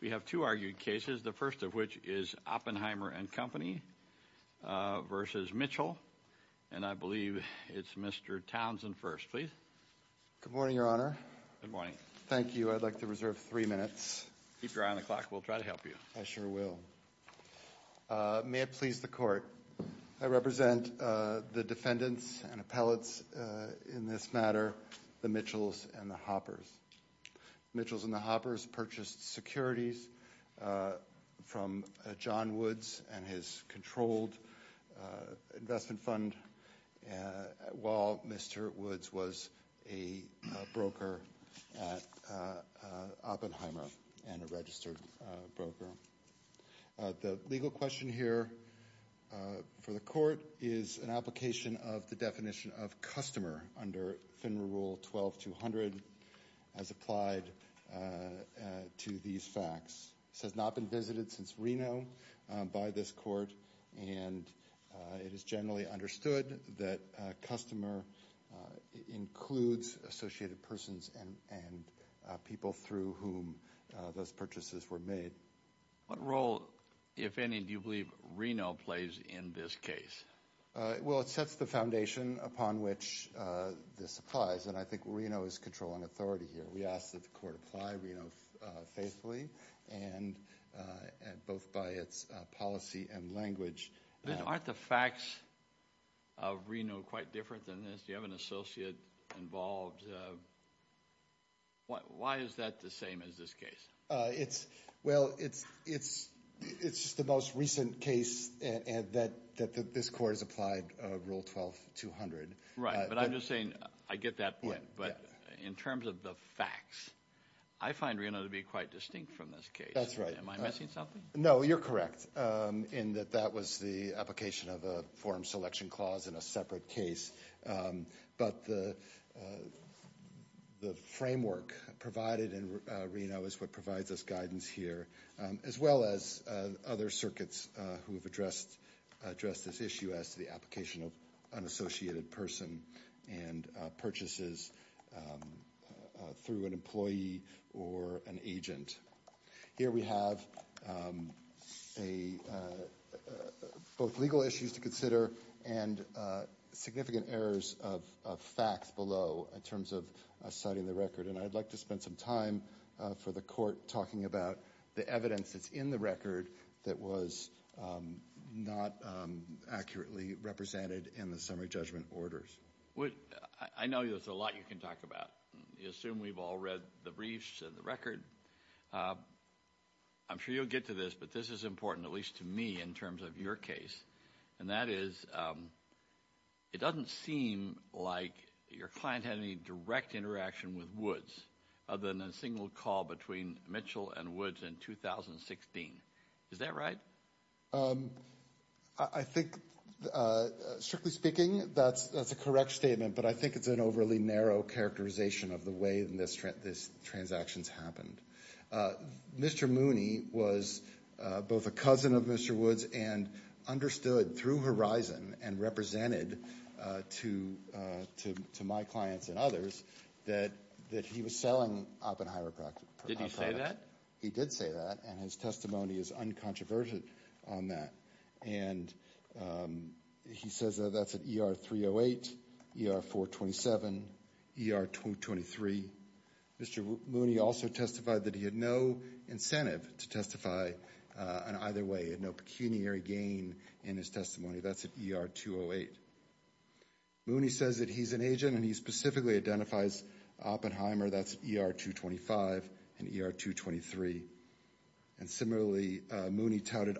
We have two argued cases, the first of which is Oppenheimer & Co. v. Mitchell, and I believe it's Mr. Townsend first, please. Good morning, Your Honor. Good morning. Thank you. I'd like to reserve three minutes. Keep your eye on the clock. We'll try to help you. I sure will. May it please the Court, I represent the defendants and appellates in this matter, the Mitchells and the Hoppers. Mitchells and the Hoppers purchased securities from John Woods and his controlled investment fund while Mr. Woods was a broker at Oppenheimer and a registered broker. The legal question here for the Court is an application of the definition of customer under FINRA Rule 12-200 as applied to these facts. This has not been visited since Reno by this Court, and it is generally understood that customer includes associated persons and people through whom those purchases were made. What role, if any, do you believe Reno plays in this case? Well, it sets the foundation upon which this applies, and I think Reno is controlling authority here. We ask that the Court apply Reno faithfully, both by its policy and language. Aren't the facts of Reno quite different than this? Do you have an associate involved? Why is that the same as this case? Well, it's just the most recent case that this Court has applied Rule 12-200. Right, but I'm just saying I get that point, but in terms of the facts, I find Reno to be quite distinct from this case. That's right. Am I missing something? No, you're correct in that that was the application of a form selection clause in a separate case, but the framework provided in Reno is what provides us guidance here, as well as other circuits who have addressed this issue as to the application of an associated person and purchases through an employee or an agent. Here we have both legal issues to consider and significant errors of facts below in terms of citing the record, and I'd like to spend some time for the Court talking about the evidence that's in the record that was not accurately represented in the summary judgment orders. I know there's a lot you can talk about. You assume we've all read the briefs and the record. I'm sure you'll get to this, but this is important, at least to me, in terms of your case, and that is it doesn't seem like your client had any direct interaction with Woods other than a single call between Mitchell and Woods in 2016. Is that right? I think, strictly speaking, that's a correct statement, but I think it's an overly narrow characterization of the way this transaction's happened. Mr. Mooney was both a cousin of Mr. Woods and understood through Horizon and represented to my clients and others that he was selling Oppenheimer products. Did he say that? He did say that, and his testimony is uncontroverted on that. And he says that that's at ER-308, ER-427, ER-23. Mr. Mooney also testified that he had no incentive to testify in either way, no pecuniary gain in his testimony. That's at ER-208. Mooney says that he's an agent, and he specifically identifies Oppenheimer. That's ER-225 and ER-223. And similarly, Mooney touted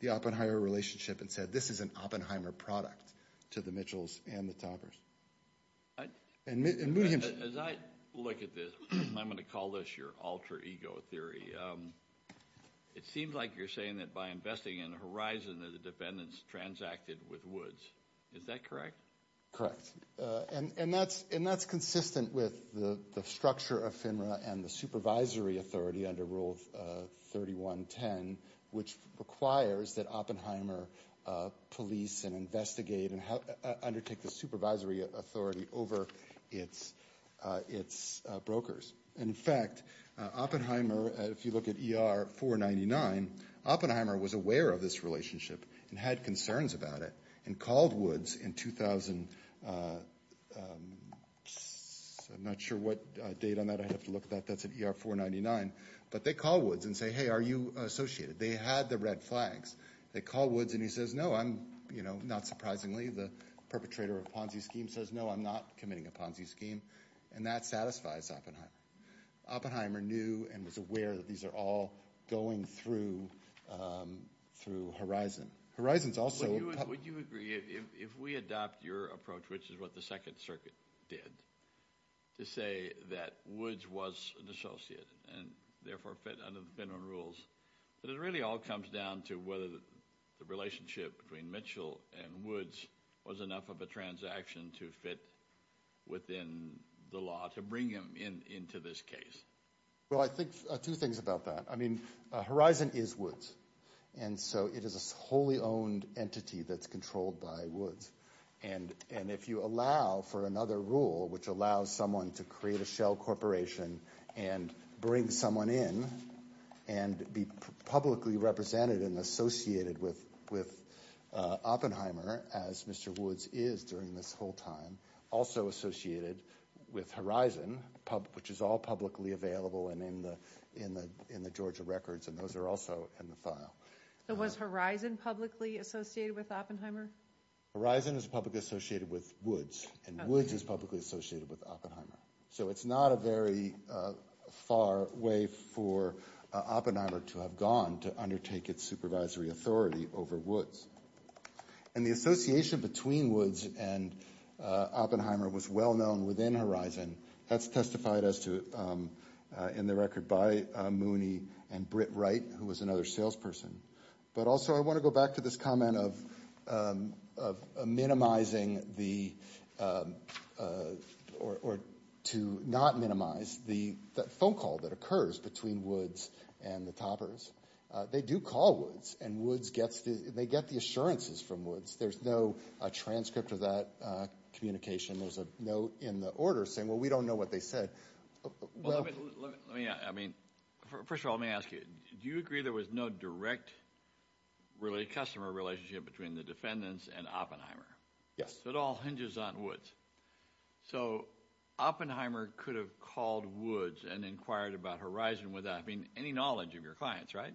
the Oppenheimer relationship and said this is an Oppenheimer product to the Mitchells and the Toppers. As I look at this, and I'm going to call this your alter ego theory, it seems like you're saying that by investing in Horizon that the defendants transacted with Woods. Is that correct? Correct. And that's consistent with the structure of FINRA and the supervisory authority under Rule 3110, which requires that Oppenheimer police and investigate and undertake the supervisory authority over its brokers. In fact, Oppenheimer, if you look at ER-499, Oppenheimer was aware of this relationship and had concerns about it and called Woods in 2000. I'm not sure what date on that I have to look at. That's at ER-499. But they called Woods and said, hey, are you associated? They had the red flags. They called Woods, and he says, no, I'm not surprisingly. The perpetrator of Ponzi scheme says, no, I'm not committing a Ponzi scheme. And that satisfies Oppenheimer. Oppenheimer knew and was aware that these are all going through Horizon. Would you agree, if we adopt your approach, which is what the Second Circuit did, to say that Woods was an associate and, therefore, fit under the FINRA rules, that it really all comes down to whether the relationship between Mitchell and Woods was enough of a transaction to fit within the law to bring him into this case? Well, I think two things about that. I mean, Horizon is Woods. And so it is a wholly owned entity that's controlled by Woods. And if you allow for another rule, which allows someone to create a shell corporation and bring someone in and be publicly represented and associated with Oppenheimer, as Mr. Woods is during this whole time, also associated with Horizon, which is all publicly available in the Georgia records, and those are also in the file. So was Horizon publicly associated with Oppenheimer? Horizon is publicly associated with Woods, and Woods is publicly associated with Oppenheimer. So it's not a very far way for Oppenheimer to have gone to undertake its supervisory authority over Woods. And the association between Woods and Oppenheimer was well known within Horizon. And that's testified in the record by Mooney and Britt Wright, who was another salesperson. But also I want to go back to this comment of minimizing the or to not minimize the phone call that occurs between Woods and the Toppers. They do call Woods, and they get the assurances from Woods. There's no transcript of that communication. There's a note in the order saying, well, we don't know what they said. First of all, let me ask you. Do you agree there was no direct customer relationship between the defendants and Oppenheimer? Yes. So it all hinges on Woods. So Oppenheimer could have called Woods and inquired about Horizon without having any knowledge of your clients, right?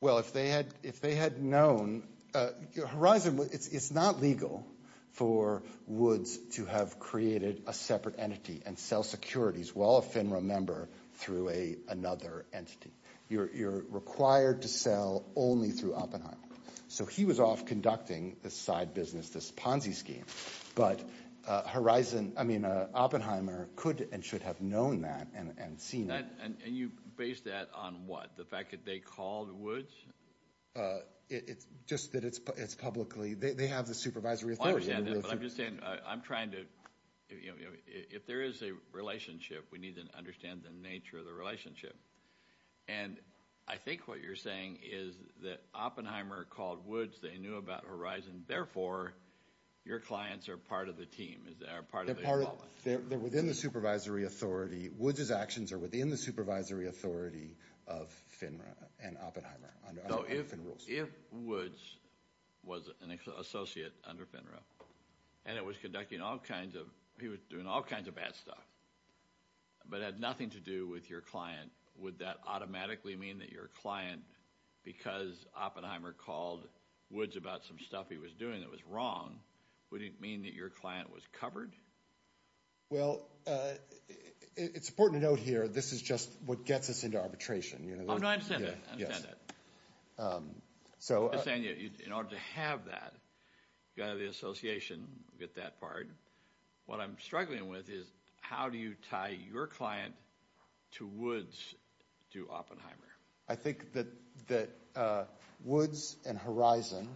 Well, if they had known Horizon, it's not legal for Woods to have created a separate entity and sell securities while a FINRA member through another entity. You're required to sell only through Oppenheimer. So he was off conducting this side business, this Ponzi scheme. But Horizon, I mean, Oppenheimer could and should have known that and seen it. And you base that on what? The fact that they called Woods? It's just that it's publicly. They have the supervisory authority. I'm just saying I'm trying to, you know, if there is a relationship, we need to understand the nature of the relationship. And I think what you're saying is that Oppenheimer called Woods. They knew about Horizon. Therefore, your clients are part of the team, are part of the involvement. They're within the supervisory authority. Woods's actions are within the supervisory authority of FINRA and Oppenheimer under FINRA rules. So if Woods was an associate under FINRA and he was doing all kinds of bad stuff but had nothing to do with your client, would that automatically mean that your client, because Oppenheimer called Woods about some stuff he was doing that was wrong, would it mean that your client was covered? Well, it's important to note here this is just what gets us into arbitration. Oh, no, I understand that. I understand that. I understand that. In order to have that, you've got to have the association, get that part. What I'm struggling with is how do you tie your client to Woods to Oppenheimer? I think that Woods and Horizon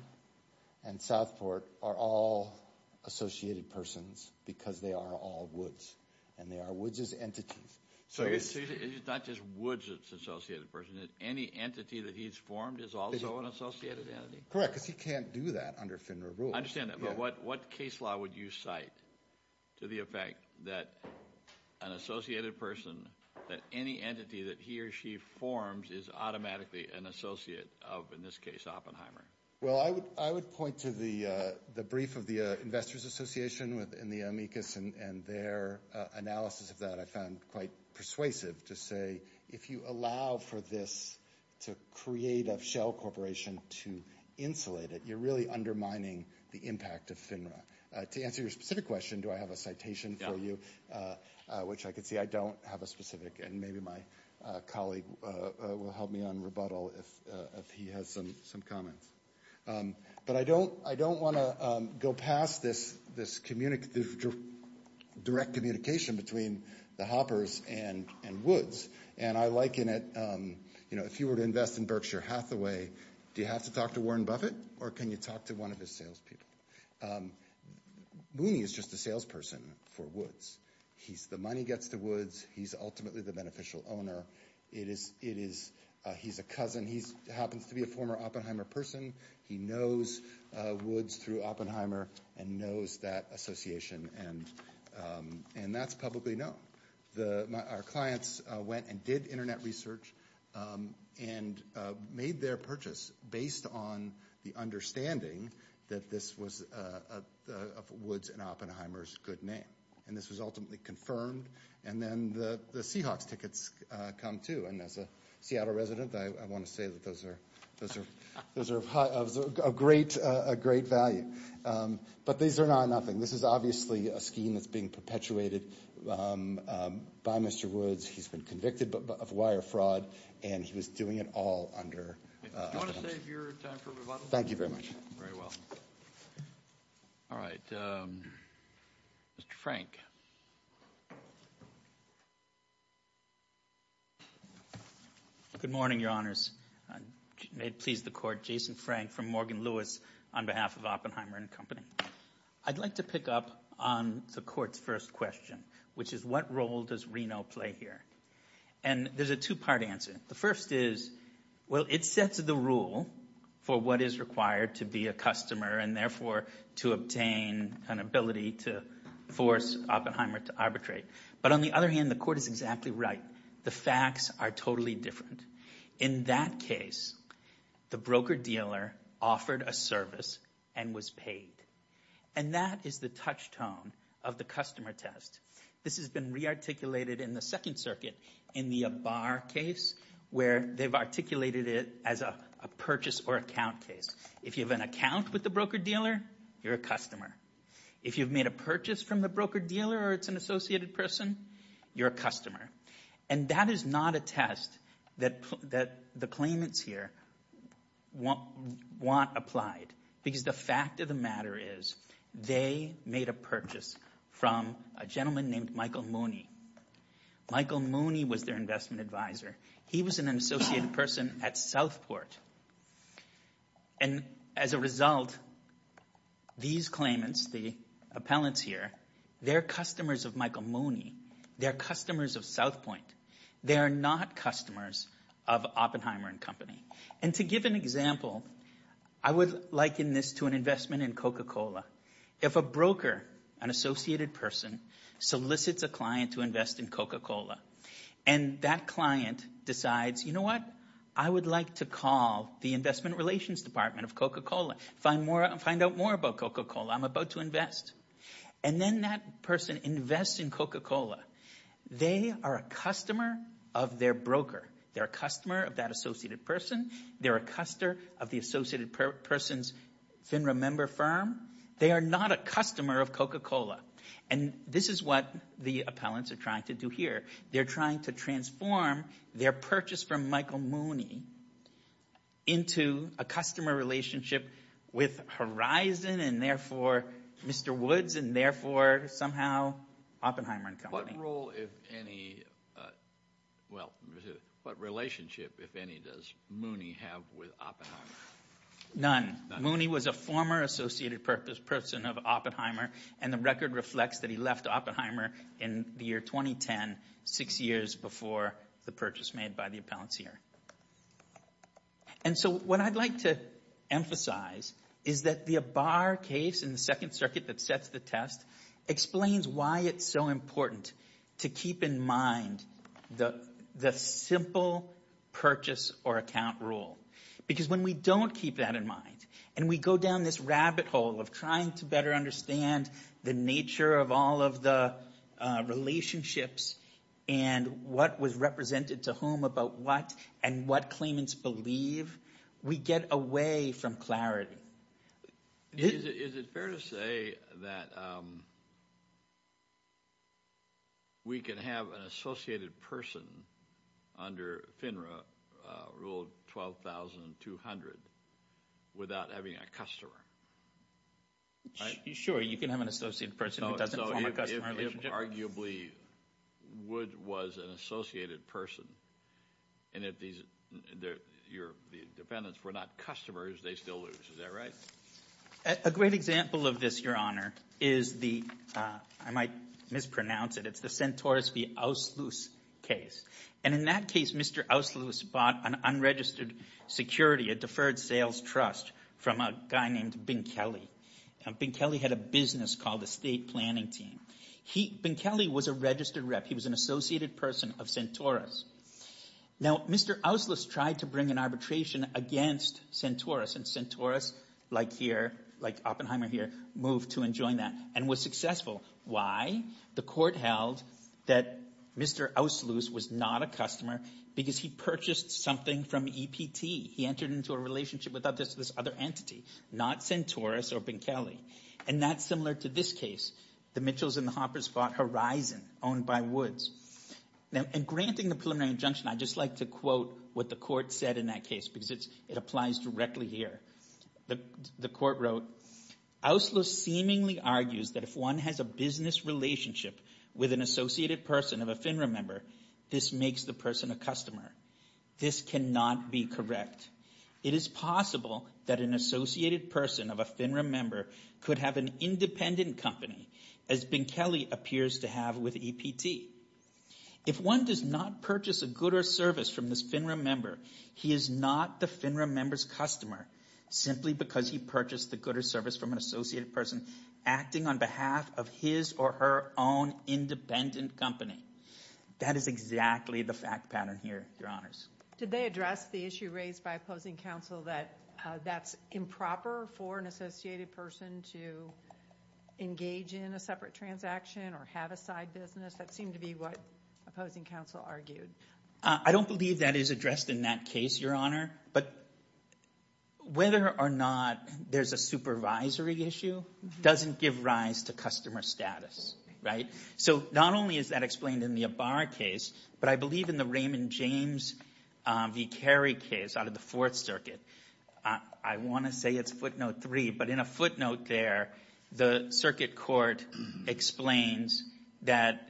and Southport are all associated persons because they are all Woods, and they are Woods's entities. So it's not just Woods that's an associated person. Any entity that he's formed is also an associated entity? Correct, because he can't do that under FINRA rules. I understand that. But what case law would you cite to the effect that an associated person, that any entity that he or she forms is automatically an associate of, in this case, Oppenheimer? Well, I would point to the brief of the Investors Association in the amicus, and their analysis of that I found quite persuasive to say, if you allow for this to create a shell corporation to insulate it, you're really undermining the impact of FINRA. To answer your specific question, do I have a citation for you, which I can see I don't have a specific, and maybe my colleague will help me on rebuttal if he has some comments. But I don't want to go past this direct communication between the Hoppers and Woods, and I liken it, you know, if you were to invest in Berkshire Hathaway, do you have to talk to Warren Buffett, or can you talk to one of his salespeople? Mooney is just a salesperson for Woods. The money gets to Woods. He's ultimately the beneficial owner. He's a cousin. He happens to be a former Oppenheimer person. He knows Woods through Oppenheimer and knows that association, and that's publicly known. Our clients went and did Internet research and made their purchase based on the understanding that this was Woods and Oppenheimer's good name, and this was ultimately confirmed. And then the Seahawks tickets come, too, and as a Seattle resident, I want to say that those are of great value. But these are not nothing. This is obviously a scheme that's being perpetuated by Mr. Woods. He's been convicted of wire fraud, and he was doing it all under Oppenheimer. Do you want to save your time for rebuttal? Thank you very much. Very well. All right. Mr. Frank. Good morning, Your Honors. May it please the Court, Jason Frank from Morgan Lewis on behalf of Oppenheimer and Company. I'd like to pick up on the Court's first question, which is what role does Reno play here? And there's a two-part answer. The first is, well, it sets the rule for what is required to be a customer and therefore to obtain an ability to force Oppenheimer to arbitrate. But on the other hand, the Court is exactly right. The facts are totally different. In that case, the broker-dealer offered a service and was paid, and that is the touchstone of the customer test. This has been rearticulated in the Second Circuit in the Abar case where they've articulated it as a purchase or account case. If you have an account with the broker-dealer, you're a customer. If you've made a purchase from the broker-dealer or it's an associated person, you're a customer. And that is not a test that the claimants here want applied because the fact of the matter is they made a purchase from a gentleman named Michael Mooney. Michael Mooney was their investment advisor. He was an associated person at Southport. And as a result, these claimants, the appellants here, they're customers of Michael Mooney. They're customers of Southpoint. They are not customers of Oppenheimer and Company. And to give an example, I would liken this to an investment in Coca-Cola. If a broker, an associated person, solicits a client to invest in Coca-Cola and that client decides, you know what, I would like to call the Investment Relations Department of Coca-Cola, find out more about Coca-Cola. I'm about to invest. And then that person invests in Coca-Cola. They are a customer of their broker. They're a customer of that associated person. They're a customer of the associated person's FINRA member firm. They are not a customer of Coca-Cola. And this is what the appellants are trying to do here. They're trying to transform their purchase from Michael Mooney into a customer relationship with Horizon and therefore Mr. Woods and therefore somehow Oppenheimer and Company. What role, if any, well, what relationship, if any, does Mooney have with Oppenheimer? None. Mooney was a former associated person of Oppenheimer, and the record reflects that he left Oppenheimer in the year 2010, six years before the purchase made by the appellants here. And so what I'd like to emphasize is that the Abar case in the Second Circuit that sets the test explains why it's so important to keep in mind the simple purchase or account rule. Because when we don't keep that in mind and we go down this rabbit hole of trying to better understand the nature of all of the relationships and what was represented to whom about what and what claimants believe, we get away from clarity. Is it fair to say that we can have an associated person under FINRA Rule 12,200 without having a customer? Sure, you can have an associated person who doesn't form a customer relationship. So if arguably Wood was an associated person and if your defendants were not customers, they still lose. Is that right? A great example of this, Your Honor, is the ‑‑ I might mispronounce it. It's the Centaurus v. Ausloos case. And in that case, Mr. Ausloos bought an unregistered security, a deferred sales trust from a guy named Binkelli. Binkelli had a business called the State Planning Team. Binkelli was a registered rep. He was an associated person of Centaurus. Now, Mr. Ausloos tried to bring an arbitration against Centaurus and Centaurus, like Oppenheimer here, moved to and joined that and was successful. Why? The court held that Mr. Ausloos was not a customer because he purchased something from EPT. He entered into a relationship with this other entity, not Centaurus or Binkelli. And that's similar to this case, the Mitchells and the Hoppers bought Horizon, owned by Woods. Now, in granting the preliminary injunction, I'd just like to quote what the court said in that case because it applies directly here. The court wrote, Ausloos seemingly argues that if one has a business relationship with an associated person of a FINRA member, this makes the person a customer. This cannot be correct. It is possible that an associated person of a FINRA member could have an independent company as Binkelli appears to have with EPT. If one does not purchase a good or service from this FINRA member, he is not the FINRA member's customer simply because he purchased the good or service from an associated person acting on behalf of his or her own independent company. That is exactly the fact pattern here, Your Honors. Did they address the issue raised by opposing counsel that that's improper for an associated person to engage in a separate transaction or have a side business? That seemed to be what opposing counsel argued. I don't believe that is addressed in that case, Your Honor. But whether or not there's a supervisory issue doesn't give rise to customer status, right? So not only is that explained in the Abar case, but I believe in the Raymond James v. Carey case out of the Fourth Circuit. I want to say it's footnote three, but in a footnote there, the circuit court explains that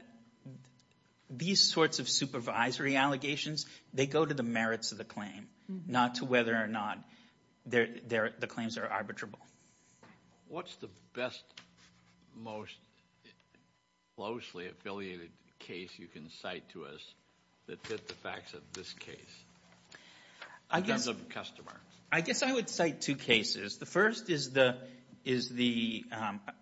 these sorts of supervisory allegations, they go to the merits of the claim, not to whether or not the claims are arbitrable. What's the best, most closely affiliated case you can cite to us that fits the facts of this case in terms of the customer? I guess I would cite two cases. The first is the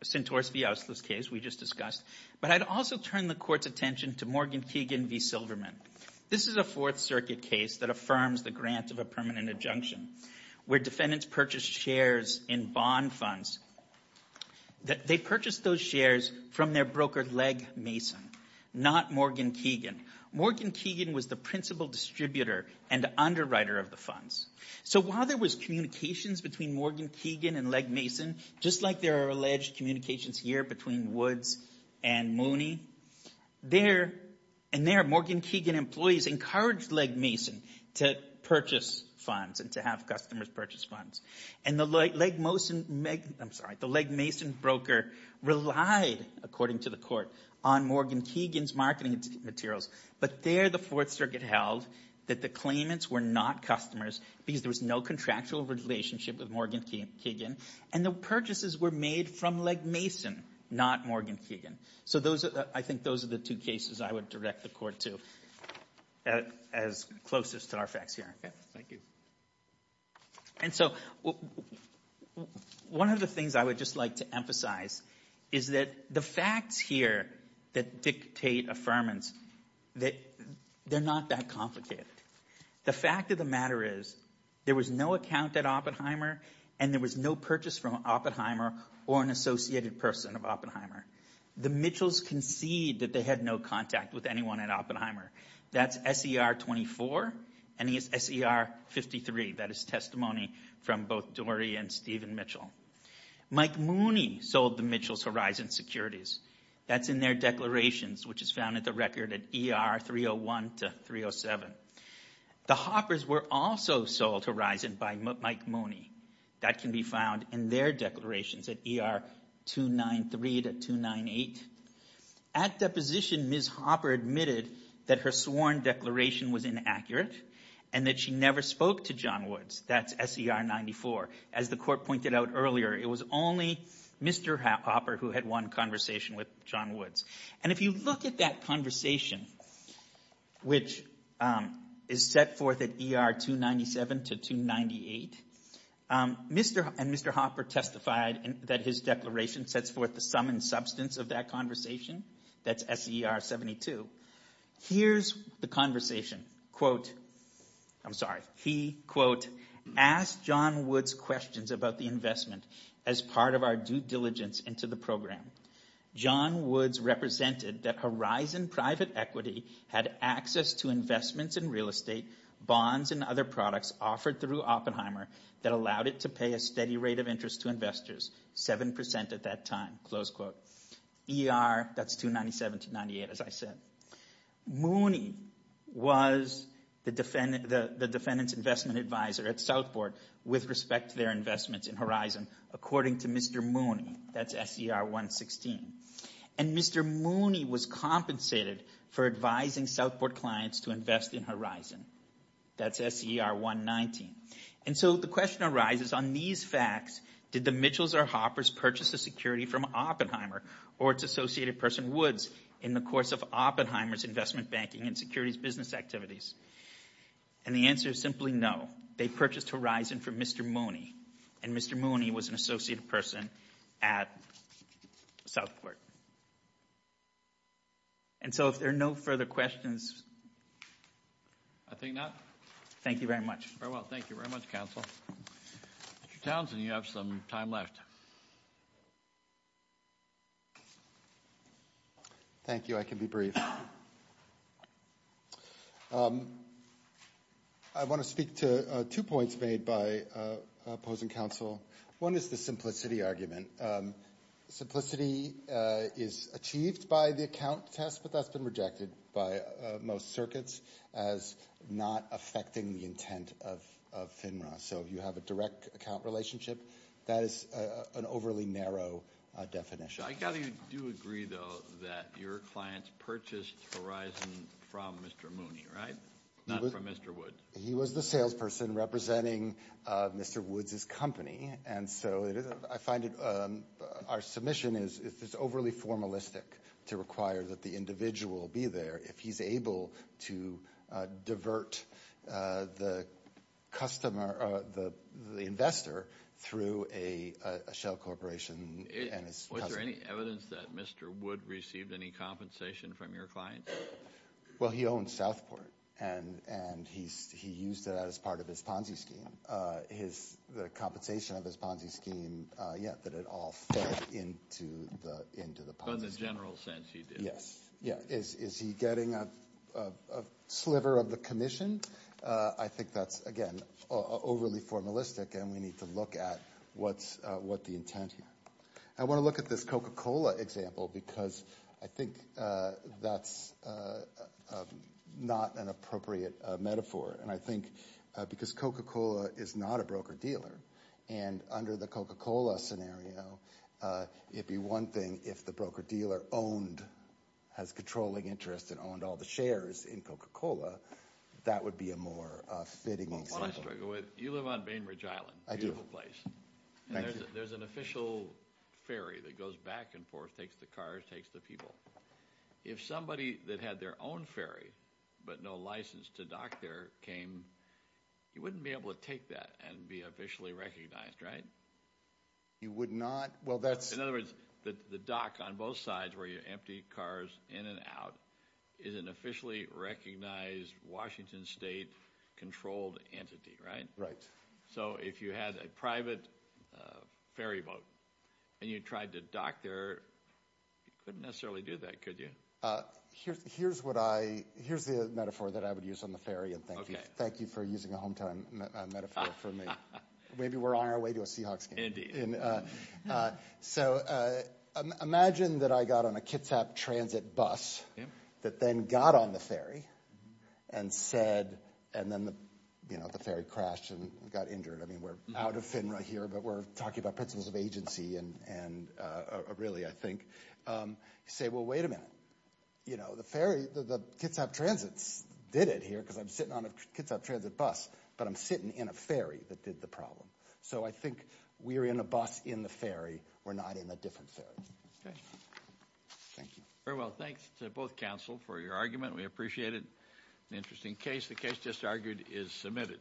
Centaurus v. Auslitz case we just discussed, but I'd also turn the Court's attention to Morgan Keegan v. Silverman. This is a Fourth Circuit case that affirms the grant of a permanent adjunction where defendants purchased shares in bond funds. They purchased those shares from their broker, Legg Mason, not Morgan Keegan. Morgan Keegan was the principal distributor and the underwriter of the funds. So while there was communications between Morgan Keegan and Legg Mason, just like there are alleged communications here between Woods and Mooney, there and there Morgan Keegan employees encouraged Legg Mason to purchase funds and to have customers purchase funds. And the Legg Mason broker relied, according to the Court, on Morgan Keegan's marketing materials. But there the Fourth Circuit held that the claimants were not customers because there was no contractual relationship with Morgan Keegan, and the purchases were made from Legg Mason, not Morgan Keegan. So I think those are the two cases I would direct the Court to as closest to our facts here. Thank you. And so one of the things I would just like to emphasize is that the facts here that dictate affirmance, they're not that complicated. The fact of the matter is there was no account at Oppenheimer and there was no purchase from Oppenheimer or an associated person of Oppenheimer. The Mitchells concede that they had no contact with anyone at Oppenheimer. That's S.E.R. 24 and S.E.R. 53. That is testimony from both Dory and Stephen Mitchell. Mike Mooney sold the Mitchells Horizon securities. That's in their declarations, which is found at the record at E.R. 301 to 307. The Hoppers were also sold Horizon by Mike Mooney. That can be found in their declarations at E.R. 293 to 298. At deposition, Ms. Hopper admitted that her sworn declaration was inaccurate and that she never spoke to John Woods. That's S.E.R. 94. As the Court pointed out earlier, it was only Mr. Hopper who had one conversation with John Woods. And if you look at that conversation, which is set forth at E.R. 297 to 298, Mr. and Mr. Hopper testified that his declaration sets forth the sum and substance of that conversation. That's S.E.R. 72. Here's the conversation. Quote, I'm sorry. He, quote, asked John Woods questions about the investment as part of our due diligence into the program. John Woods represented that Horizon Private Equity had access to investments in real estate, bonds, and other products offered through Oppenheimer that allowed it to pay a steady rate of interest to investors, 7% at that time, close quote. E.R. That's 297 to 298, as I said. Mooney was the defendant's investment advisor at Southport with respect to their investments in Horizon. According to Mr. Mooney, that's S.E.R. 116. And Mr. Mooney was compensated for advising Southport clients to invest in Horizon. That's S.E.R. 119. And so the question arises on these facts, did the Mitchells or Hoppers purchase the security from Oppenheimer or its associated person Woods in the course of Oppenheimer's investment banking and securities business activities? And the answer is simply no. They purchased Horizon from Mr. Mooney, and Mr. Mooney was an associated person at Southport. And so if there are no further questions. I think not. Thank you very much. Very well, thank you very much, counsel. Mr. Townsend, you have some time left. Thank you. I can be brief. I want to speak to two points made by opposing counsel. One is the simplicity argument. Simplicity is achieved by the account test, but that's been rejected by most circuits as not affecting the intent of FINRA. So you have a direct account relationship. That is an overly narrow definition. I do agree, though, that your clients purchased Horizon from Mr. Mooney, right? Not from Mr. Woods. He was the salesperson representing Mr. Woods's company. I find our submission is overly formalistic to require that the individual be there if he's able to divert the investor through a shell corporation. Was there any evidence that Mr. Woods received any compensation from your clients? Well, he owns Southport, and he used that as part of his Ponzi scheme. The compensation of his Ponzi scheme, yeah, that it all fell into the Ponzi scheme. In the general sense, he did. Yes. Yeah. Is he getting a sliver of the commission? I think that's, again, overly formalistic, and we need to look at what the intent here. I want to look at this Coca-Cola example because I think that's not an appropriate metaphor. And I think because Coca-Cola is not a broker-dealer, and under the Coca-Cola scenario, it'd be one thing if the broker-dealer owned, has controlling interest and owned all the shares in Coca-Cola. That would be a more fitting example. One I struggle with, you live on Bainbridge Island. I do. Beautiful place. Thank you. There's an official ferry that goes back and forth, takes the cars, takes the people. If somebody that had their own ferry but no license to dock there came, you wouldn't be able to take that and be officially recognized, right? You would not? Well, that's— In other words, the dock on both sides where you empty cars in and out is an officially recognized Washington State controlled entity, right? Right. So if you had a private ferry boat and you tried to dock there, you couldn't necessarily do that, could you? Here's what I—here's the metaphor that I would use on the ferry, and thank you. Thank you for using a hometown metaphor for me. Maybe we're on our way to a Seahawks game. So imagine that I got on a Kitsap Transit bus that then got on the ferry and said— and then, you know, the ferry crashed and got injured. I mean, we're out of FINRA here, but we're talking about principles of agency and really, I think. You say, well, wait a minute. You know, the ferry—the Kitsap Transit did it here because I'm sitting on a Kitsap Transit bus, but I'm sitting in a ferry that did the problem. So I think we're in a bus in the ferry. We're not in a different ferry. Okay. Thank you. Very well. Thanks to both counsel for your argument. We appreciate it. An interesting case. The case just argued is submitted.